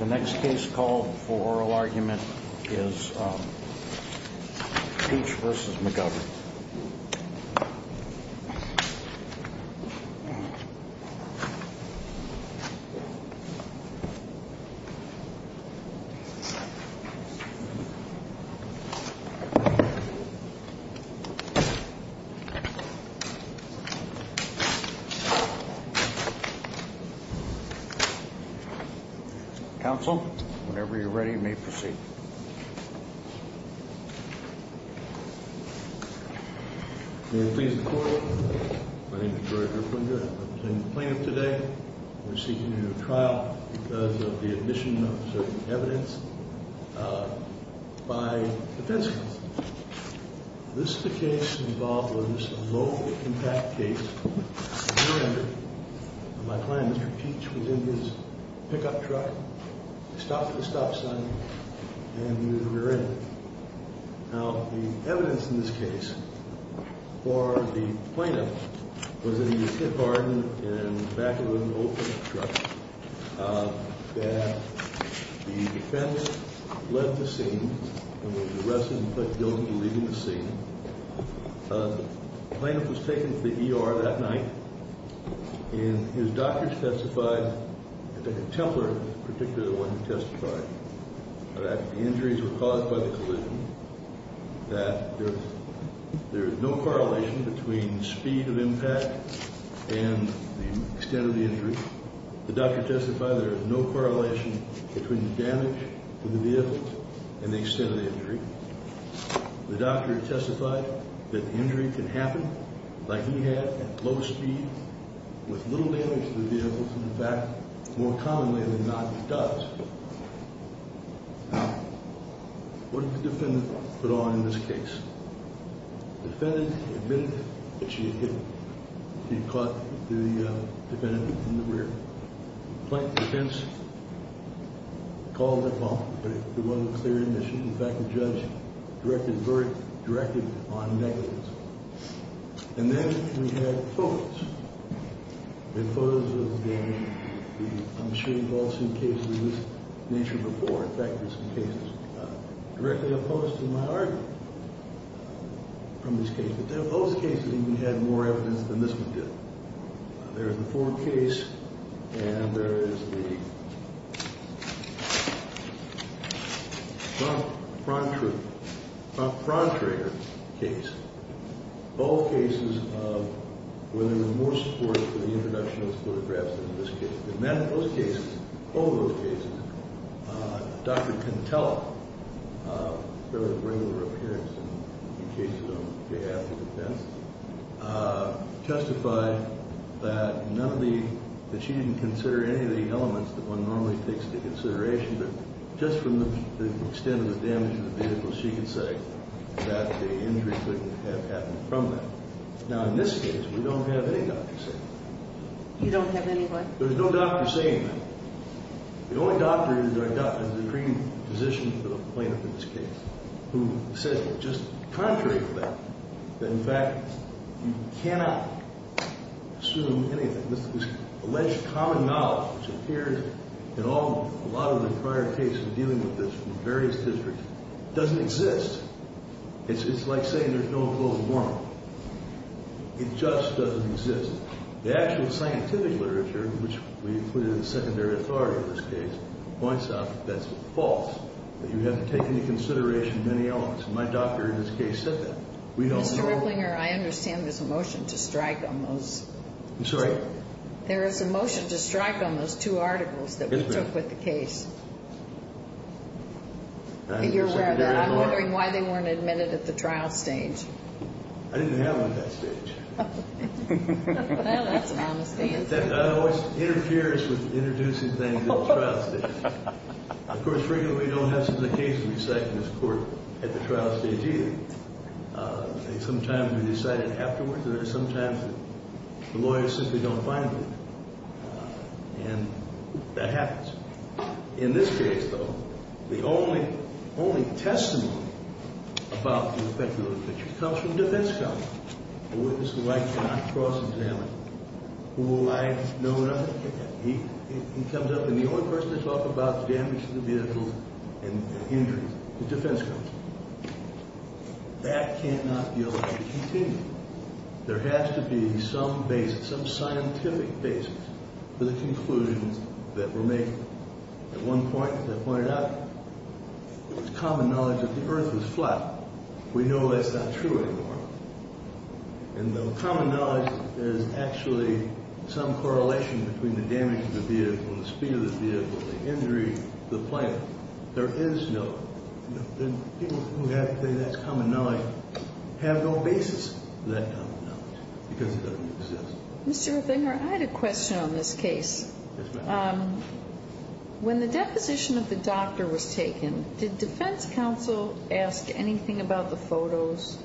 The next case called for oral argument is Peach v. McGovern Counsel, whenever you're ready, you may proceed. May it please the Court, my name is George Rufflinger. I'm representing the plaintiff today. We're seeking a new trial because of the admission of certain evidence by defense counsel. This is a case involving a low-impact case, rear-ended. My client, Mr. Peach, was in his pickup truck, stopped at a stop sign, and he was rear-ended. Now, the evidence in this case for the plaintiff was that he was hit hard in the back of an open truck. That the defense left the scene and was arrested and put guilty of leaving the scene. The plaintiff was taken to the ER that night, and his doctor testified, I think a Templer in particular was the one who testified, that the injuries were caused by the collision, that there is no correlation between speed of impact and the extent of the injury. The doctor testified there is no correlation between the damage to the vehicle and the extent of the injury. The doctor testified that the injury can happen, like he had, at low speed, with little damage to the vehicle from the back more commonly than not it does. Now, what did the defendant put on in this case? The defendant admitted that she had hit him. She caught the defendant in the rear. The plaintiff's defense called the call, but it wasn't a clear admission. In fact, the judge directed on negatives. And then we had photos. The photos of the, I'm sure you've all seen cases of this nature before. In fact, there's some cases directly opposed to my argument from this case. But those cases even had more evidence than this one did. There's the Ford case, and there is the Frontrier case. Both cases of where there was more support for the introduction of those photographs than in this case. In both cases, both of those cases, Dr. Contella, her regular appearance in cases on behalf of defense, testified that none of the, that she didn't consider any of the elements that one normally takes into consideration, but just from the extent of the damage to the vehicle, she could say that the injury could have happened from that. Now, in this case, we don't have any doctor saying that. You don't have anyone? There's no doctor saying that. The only doctor is the Supreme Physician, the plaintiff in this case, who said just contrary to that, that in fact you cannot assume anything. This alleged common knowledge, which appeared in a lot of the prior cases dealing with this from various districts, doesn't exist. It's like saying there's no closed warrant. It just doesn't exist. The actual scientific literature, which we included in the secondary authority in this case, points out that that's false, that you have to take into consideration many elements. My doctor in this case said that. We don't know. Mr. Ripplinger, I understand there's a motion to strike on those. I'm sorry? There is a motion to strike on those two articles that we took with the case. I understand that. You're aware of that. I'm wondering why they weren't admitted at the trial stage. I didn't have them at that stage. Well, that's an honest answer. That always interferes with introducing things at the trial stage. Of course, frequently we don't have such a case to recite in this court at the trial stage either. Sometimes we recite it afterwards, and sometimes the lawyers simply don't find it. And that happens. In this case, though, the only testimony about the effect of the literature comes from defense counsel, a witness who I cannot cross-examine, who I know nothing of. He comes up, and the only person to talk about the damage to the vehicle and injury is defense counsel. That cannot be allowed to continue. There has to be some basis, some scientific basis for the conclusion that we're making. At one point, as I pointed out, it was common knowledge that the earth was flat. We know that's not true anymore. And though common knowledge is actually some correlation between the damage to the vehicle, the speed of the vehicle, the injury, the plane, there is no. People who have to say that's common knowledge have no basis for that common knowledge because it doesn't exist. Mr. Ruffinger, I had a question on this case. Yes, ma'am. When the deposition of the doctor was taken, did defense counsel ask anything about the photos?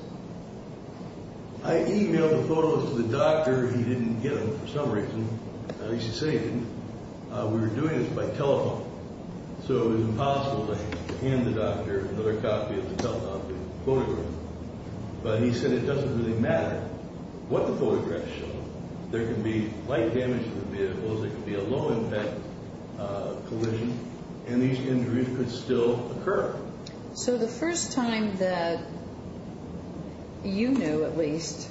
I e-mailed the photos to the doctor. He didn't get them for some reason. I should say he didn't. He gave the doctor another copy of the photograph, but he said it doesn't really matter what the photographs show. There could be light damage to the vehicle. There could be a low-impact collision, and these injuries could still occur. So the first time that you knew, at least,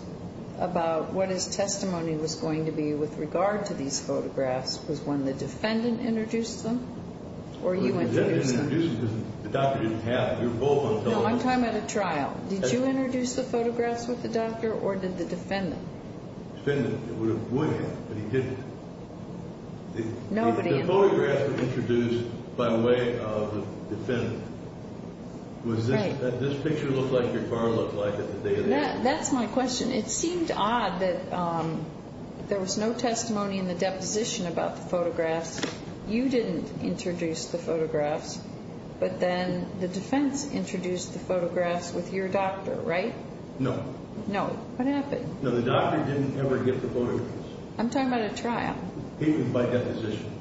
about what his testimony was going to be with regard to these photographs was when the defendant introduced them or you went to introduce them? I went to introduce them because the doctor didn't have them. You were both on telephone. No, I'm talking about a trial. Did you introduce the photographs with the doctor or did the defendant? The defendant would have, but he didn't. The photographs were introduced by way of the defendant. Was this picture look like your car looked like at the day of the accident? That's my question. It seemed odd that there was no testimony in the deposition about the photographs. You didn't introduce the photographs, but then the defense introduced the photographs with your doctor, right? No. No. What happened? No, the doctor didn't ever get the photographs. I'm talking about a trial. He did by deposition.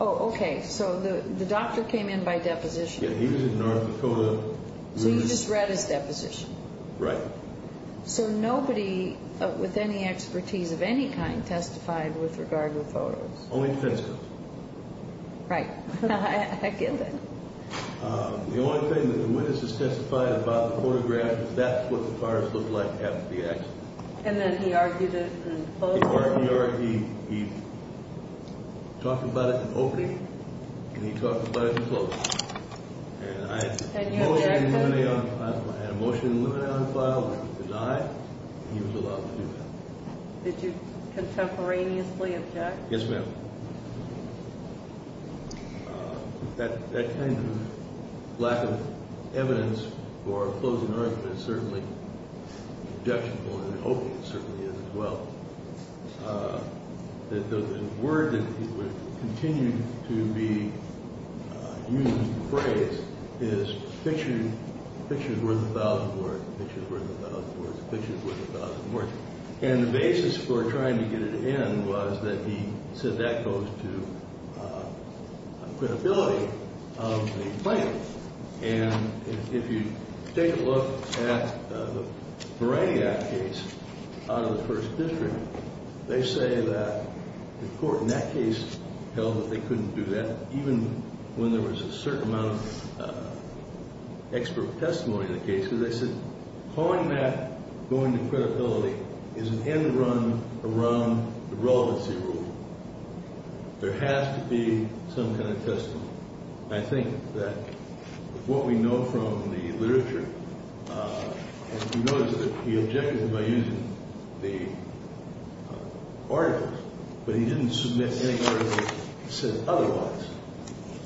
Oh, okay. So the doctor came in by deposition. Yeah, he was in North Dakota. So you just read his deposition? Right. So nobody with any expertise of any kind testified with regard to the photos? Only defense. Right. I get that. The only thing that the witness has testified about the photographs, that's what the cars looked like after the accident. And then he argued it in closing? He talked about it in opening, and he talked about it in closing. And I had a motion in the limine on file to die, and he was allowed to do that. Did you contemporaneously object? Yes, ma'am. That kind of lack of evidence for a closing argument is certainly objectionable in an opening. It certainly is as well. The word that would continue to be used in the phrase is pictures worth a thousand words, pictures worth a thousand words, pictures worth a thousand words. And the basis for trying to get it in was that he said that goes to credibility of the plaintiff. And if you take a look at the Meridiac case out of the First District, they say that the court in that case held that they couldn't do that, even when there was a certain amount of expert testimony in the case. They said calling that going to credibility is an end run around the relevancy rule. There has to be some kind of testimony. I think that what we know from the literature is that he objected by using the articles, but he didn't submit any articles that said otherwise.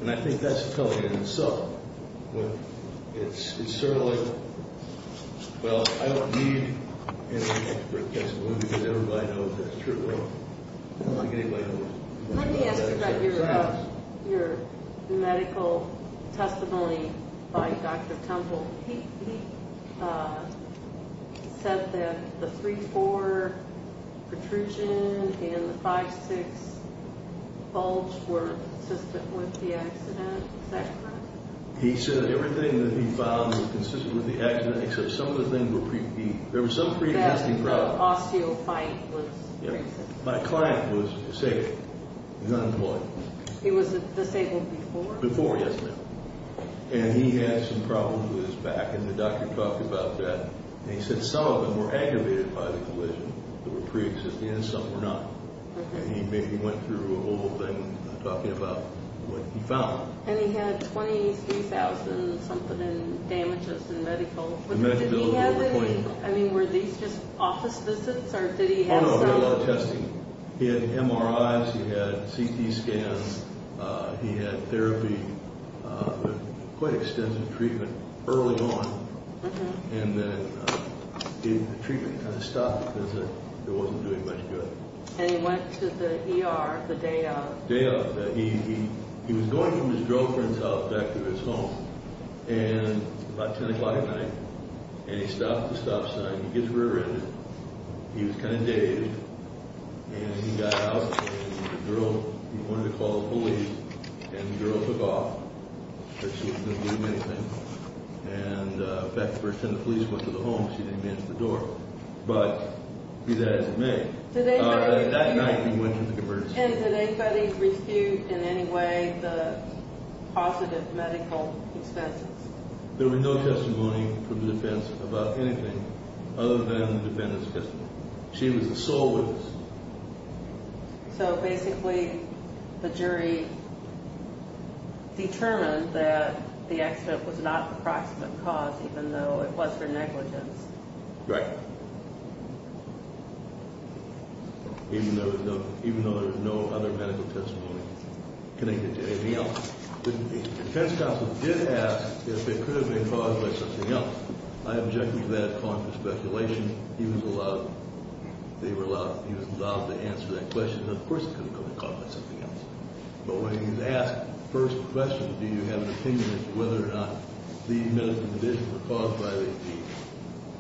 And I think that's a cover in itself. But it's certainly, well, I don't need any expert testimony because everybody knows that's true. I don't think anybody knows. Let me ask you about your medical testimony by Dr. Temple. He said that the 3-4 protrusion and the 5-6 bulge were consistent with the accident. Is that correct? He said everything that he found was consistent with the accident, except some of the things were pre- There was some pre-casting problem. The osteophyte was pre-existing. My client was sick, was unemployed. He was disabled before? Before, yes, ma'am. And he had some problems with his back, and the doctor talked about that. And he said some of them were aggravated by the collision. There were pre-existing and some were not. And he maybe went through a whole thing talking about what he found. And he had 23,000-something in damages in medical. Did he have any, I mean, were these just office visits, or did he have some He had MRIs. He had CT scans. He had therapy, quite extensive treatment early on. And then the treatment kind of stopped because it wasn't doing much good. And he went to the ER the day of? Day of. He was going from his girlfriend's house back to his home, and about 10 o'clock at night, and he stopped at the stop sign. He gets rear-ended. He was kind of dazed. And he got out, and the girl, he wanted to call the police, and the girl took off. But she wasn't going to do him anything. And back the first time the police went to the home, she didn't answer the door. But be that as it may, that night he went to the emergency room. And did anybody refute in any way the positive medical expenses? There was no testimony from the defense about anything other than the defendant's testimony. She was the sole witness. So basically the jury determined that the accident was not an approximate cause, even though it was for negligence. Right. Even though there was no other medical testimony connected to anything else. The defense counsel did ask if it could have been caused by something else. I objected to that, calling for speculation. He was allowed to answer that question. Of course it could have been caused by something else. But when he was asked the first question, do you have an opinion as to whether or not these medical conditions were caused by the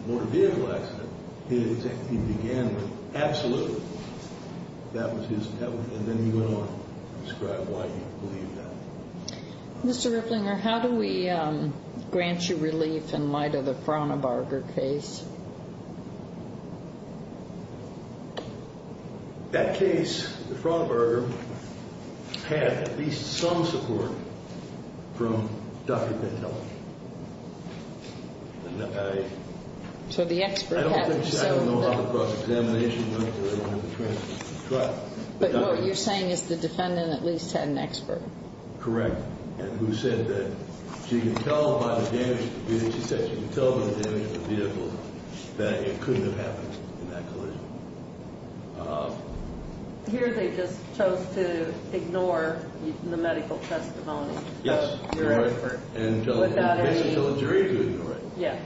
motor vehicle accident, he began with, absolutely, that was his testimony. And then he went on to describe why he believed that. Mr. Rifflinger, how do we grant you relief in light of the Fraunabarger case? That case, the Fraunabarger, had at least some support from Dr. Bentelli. So the expert had some support. I don't know how the cross-examination went. But what you're saying is the defendant at least had an expert. Correct. And who said that she could tell by the damage to the vehicle that it couldn't have happened in that collision. Here they just chose to ignore the medical testimony. Yes, you're right. Without any... Until the jury could, you're right. Yeah.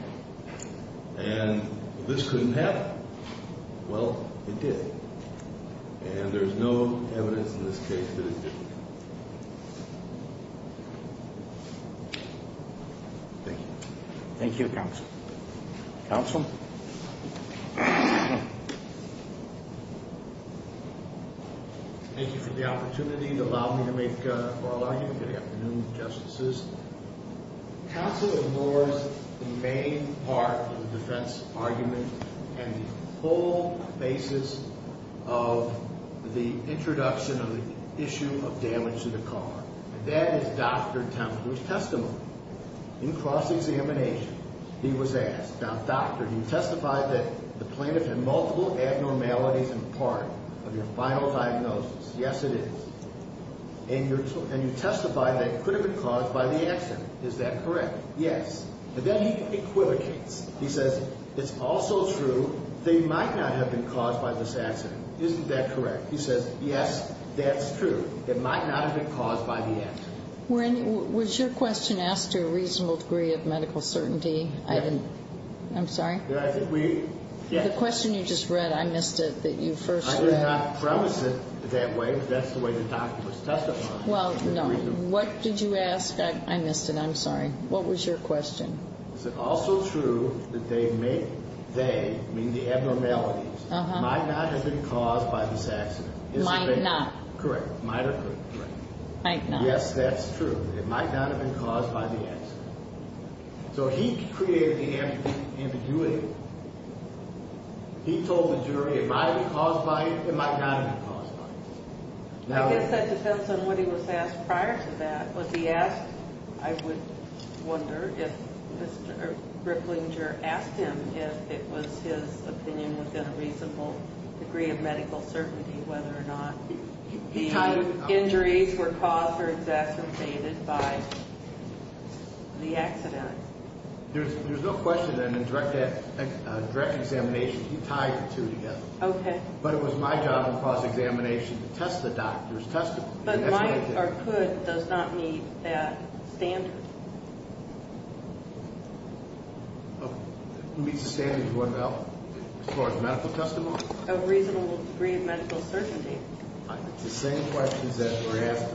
And this couldn't happen. Well, it did. And there's no evidence in this case that it didn't happen. Thank you. Thank you, Counsel. Counsel? Thank you for the opportunity to allow me to make, or allow you, good afternoon, Justices. Counsel ignores the main part of the defense argument and the whole basis of the introduction of the issue of damage to the car. And that is Dr. Temple's testimony. In cross-examination, he was asked, Now, Doctor, do you testify that the plaintiff had multiple abnormalities in part of your final diagnosis? Yes, it is. And you testify that it could have been caused by the accident. Is that correct? Yes. And then he equivocates. He says, It's also true, they might not have been caused by this accident. Isn't that correct? He says, Yes, that's true. It might not have been caused by the accident. Was your question asked to a reasonable degree of medical certainty? Yes. I'm sorry? I think we... The question you just read, I missed it, that you first... I did not premise it that way, but that's the way the doctor was testifying. Well, no. What did you ask? I missed it. I'm sorry. What was your question? Is it also true that they may, they, meaning the abnormalities, might not have been caused by this accident? Might not. Correct. Might or could. Correct. Might not. Yes, that's true. It might not have been caused by the accident. So he created the ambiguity. He told the jury, Am I caused by it? Am I not caused by it? I guess that depends on what he was asked prior to that. Was he asked? I would wonder if Mr. Riplinger asked him if it was his opinion within a reasonable degree of medical certainty whether or not the injuries were caused or exacerbated by the accident. There's no question that in direct examination he tied the two together. Okay. But it was my job in cross-examination to test the doctor's testimony. But might or could does not meet that standard. Okay. Who meets the standards? One or the other? As far as medical testimony? A reasonable degree of medical certainty. It's the same questions that were asked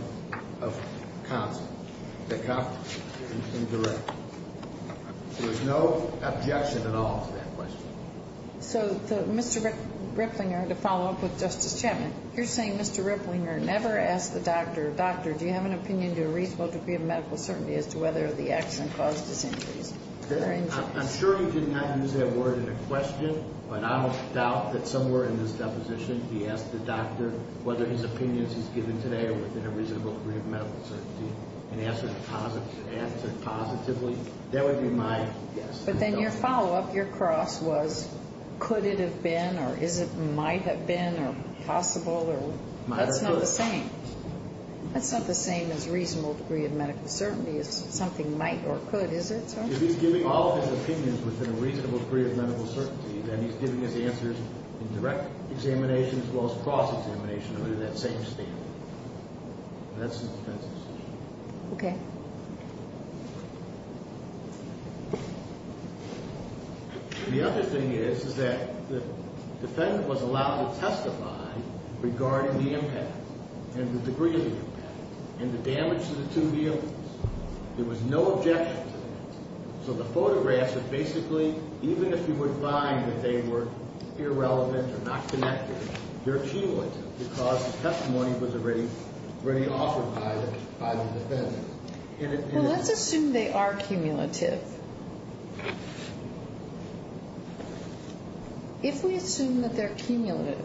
of counsel. The counsel in direct. There was no objection at all to that question. So Mr. Riplinger, to follow up with Justice Chapman, you're saying Mr. Riplinger never asked the doctor, Doctor, do you have an opinion to a reasonable degree of medical certainty as to whether the accident caused his injuries? I'm sure he did not use that word in a question, but I will doubt that somewhere in this deposition he asked the doctor whether his opinions he's given today are within a reasonable degree of medical certainty and answered positively. That would be my guess. But then your follow-up, your cross, was could it have been or might have been or possible. Might or could. That's not the same. That's not the same as reasonable degree of medical certainty. It's something might or could. Is it, sir? If he's giving all of his opinions within a reasonable degree of medical certainty, then he's giving his answers in direct examination as well as cross-examination under that same standard. That's the defense's decision. Okay. The other thing is, is that the defendant was allowed to testify regarding the impact and the degree of the impact and the damage to the two vehicles. There was no objection to that. So the photographs are basically, even if you would find that they were irrelevant or not connected, they're cumulative because the testimony was already offered by the defendant. Well, let's assume they are cumulative. If we assume that they're cumulative,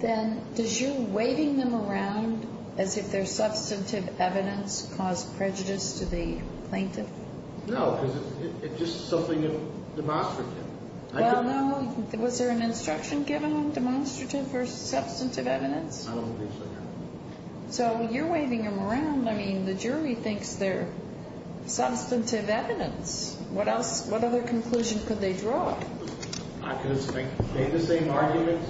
then does your waving them around as if they're substantive evidence caused prejudice to the plaintiff? No, because it's just something demonstrative. Well, no. Was there an instruction given on demonstrative or substantive evidence? I don't think so, no. So you're waving them around. I mean, the jury thinks they're substantive evidence. What other conclusion could they draw? I could have made the same argument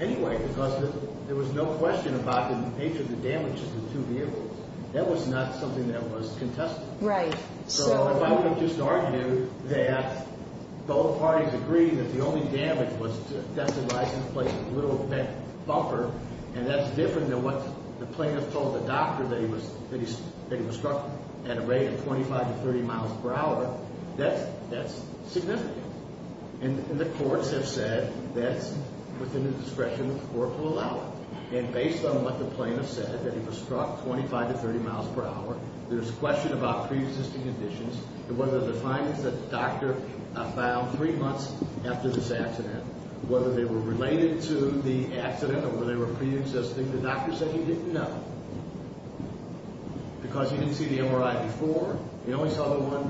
anyway because there was no question about the nature of the damage to the two vehicles. That was not something that was contested. Right. So if I would have just argued that both parties agreed that the only damage was to the death and license plate, and that's different than what the plaintiff told the doctor that he was struck at a rate of 25 to 30 miles per hour, that's significant. And the courts have said that's within the discretion of the court to allow it. And based on what the plaintiff said, that he was struck 25 to 30 miles per hour, there's a question about preexisting conditions and whether the findings that the doctor found three months after this accident, whether they were related to the accident or whether they were preexisting, the doctor said he didn't know because he didn't see the MRI before. He only saw the one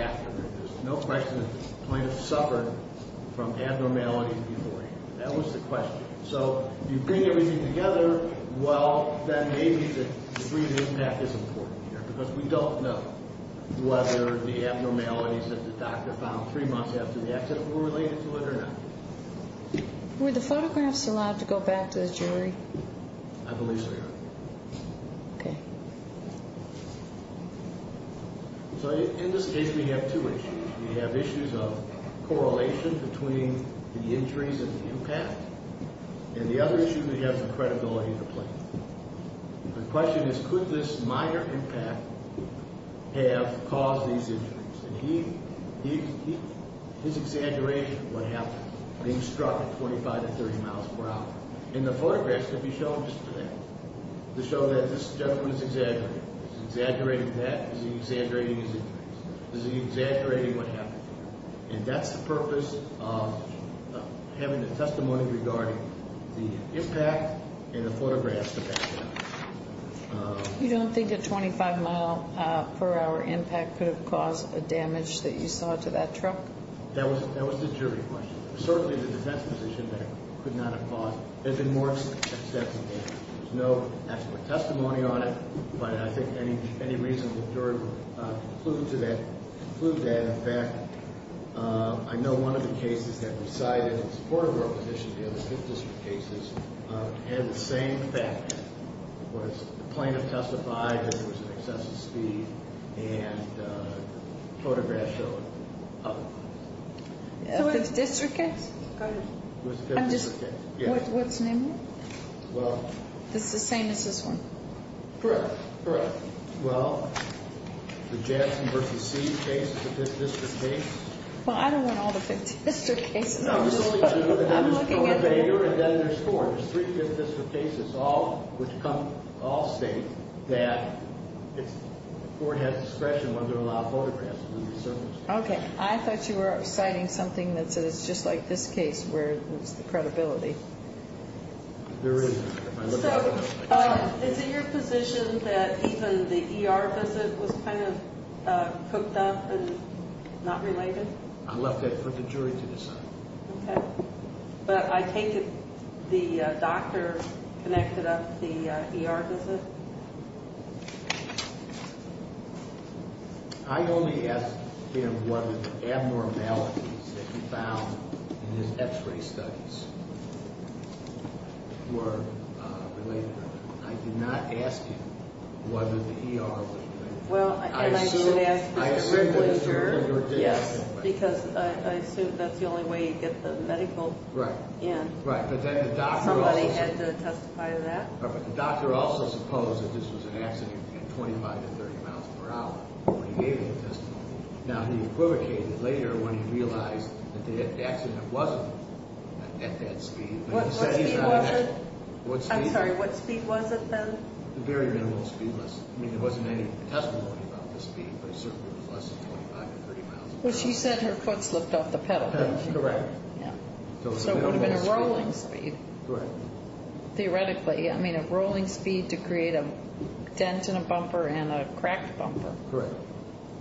after. There's no question the plaintiff suffered from abnormality beforehand. That was the question. So you bring everything together, well, then maybe the degree of impact is important here because we don't know whether the abnormalities that the doctor found three months after the accident were related to it or not. Were the photographs allowed to go back to the jury? I believe so, Your Honor. Okay. So in this case, we have two issues. We have issues of correlation between the injuries and the impact. And the other issue, we have the credibility of the plaintiff. The question is, could this minor impact have caused these injuries? And he's exaggerating what happened, being struck at 25 to 30 miles per hour. And the photographs could be shown just for that, to show that this gentleman is exaggerating. Is he exaggerating that? Is he exaggerating his injuries? Is he exaggerating what happened? And that's the purpose of having the testimony regarding the impact and the photographs about that. You don't think a 25-mile-per-hour impact could have caused a damage that you saw to that truck? That was the jury question. Certainly, the defense position could not have caused it. There's been more extensive evidence. There's no actual testimony on it. But I think any reasonable jury would conclude that. In fact, I know one of the cases that recited in support of your position, the other fifth district cases, had the same effect. The plaintiff testified that there was an excessive speed, and photographs showed up. The fifth district case? I'm just—what's the name of it? Well— It's the same as this one? Correct, correct. Well, the Jackson v. C case is a fifth district case. Well, I don't want all the fifth district cases. No, there's only two. I'm looking at it. There's Porter and then there's Ford. There's three fifth district cases, all which come—all state that Ford has discretion when there are a lot of photographs. Okay. I thought you were citing something that says, just like this case, where there's the credibility. There is. So, is it your position that even the ER visit was kind of cooked up and not related? I left that for the jury to decide. Okay. But I take it the doctor connected up the ER visit? I only asked him whether the abnormalities that he found in his X-ray studies were related or not. I did not ask him whether the ER was related. Well, and I did ask the jury. Yes, because I assume that's the only way you get the medical in. Right, right. Somebody had to testify to that. But the doctor also supposed that this was an accident at 25 to 30 miles per hour when he gave the testimony. Now, he equivocated later when he realized that the accident wasn't at that speed. What speed was it? I'm sorry. What speed was it then? Very minimal speed. I mean, there wasn't any testimony about the speed, but it certainly was less than 25 to 30 miles per hour. Well, she said her foot slipped off the pedal, didn't she? Correct. Yeah. So, it would have been a rolling speed. Correct. Theoretically, I mean, a rolling speed to create a dent in a bumper and a cracked bumper. Correct.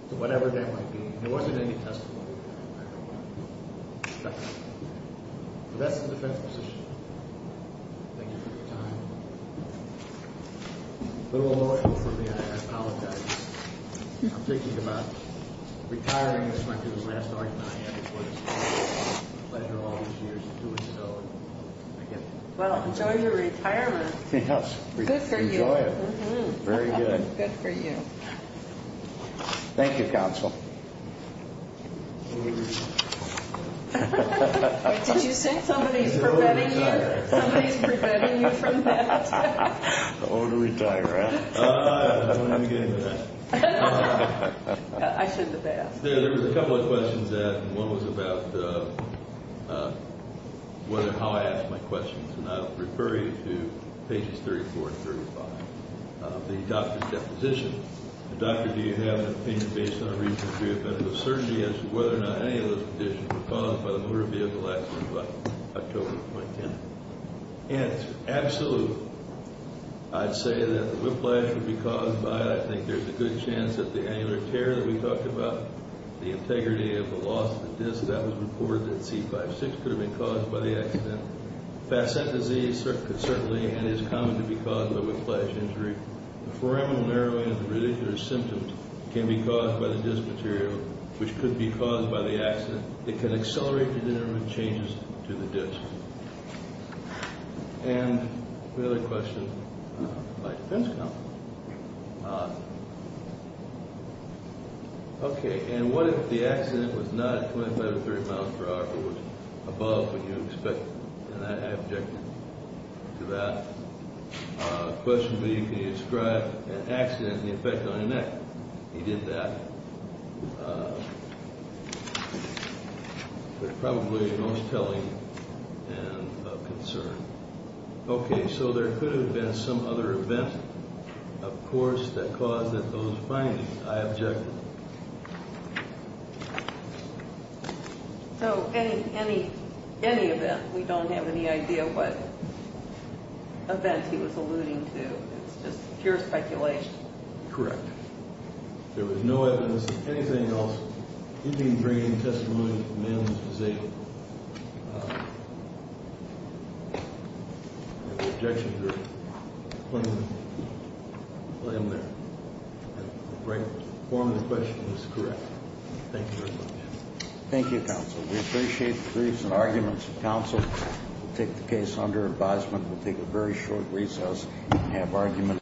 So, whatever that might be. There wasn't any testimony. I don't know. That's the defense position. Thank you for your time. A little emotional for me. I apologize. I'm thinking about retiring as much as last night and I am. It's been a pleasure all these years to do so. Well, enjoy your retirement. Yes. Good for you. Enjoy it. Very good. Good for you. Thank you, counsel. Did you say somebody is preventing you? Somebody is preventing you from that. I'm going to retire. I shouldn't have asked. There was a couple of questions. One was about how I ask my questions, and I'll refer you to pages 34 and 35. The doctor's deposition. The doctor, do you have an opinion based on a recent treatment of surgery as to whether or not any of those conditions were caused by the motor vehicle accident by October 2010? Yes, absolutely. I'd say that the whiplash would be caused by, I think there's a good chance that the angular tear that we talked about, the integrity of the loss of the disc, that was reported that C5-6 could have been caused by the accident. Facet disease could certainly and is common to be caused by whiplash injury. The foraminal narrowing of the radicular symptoms can be caused by the disc material, which could be caused by the accident. It can accelerate the delivery of changes to the disc. And the other question by defense counsel. Okay. And what if the accident was not at 25 or 30 miles per hour, but was above what you expected? And I object to that. Question B, can you describe an accident and the effect on your neck? He did that. That's probably the most telling and of concern. Okay. So there could have been some other event, of course, that caused those findings. I object. So any event? We don't have any idea what event he was alluding to. It's just pure speculation. Correct. There was no evidence of anything else. He didn't bring any testimony that the man was disabled. I object to your claim there. The foraminal question is correct. Thank you very much. Thank you, counsel. We appreciate the briefs and arguments of counsel. We'll take the case under advisement. We'll take a very short recess and have arguments.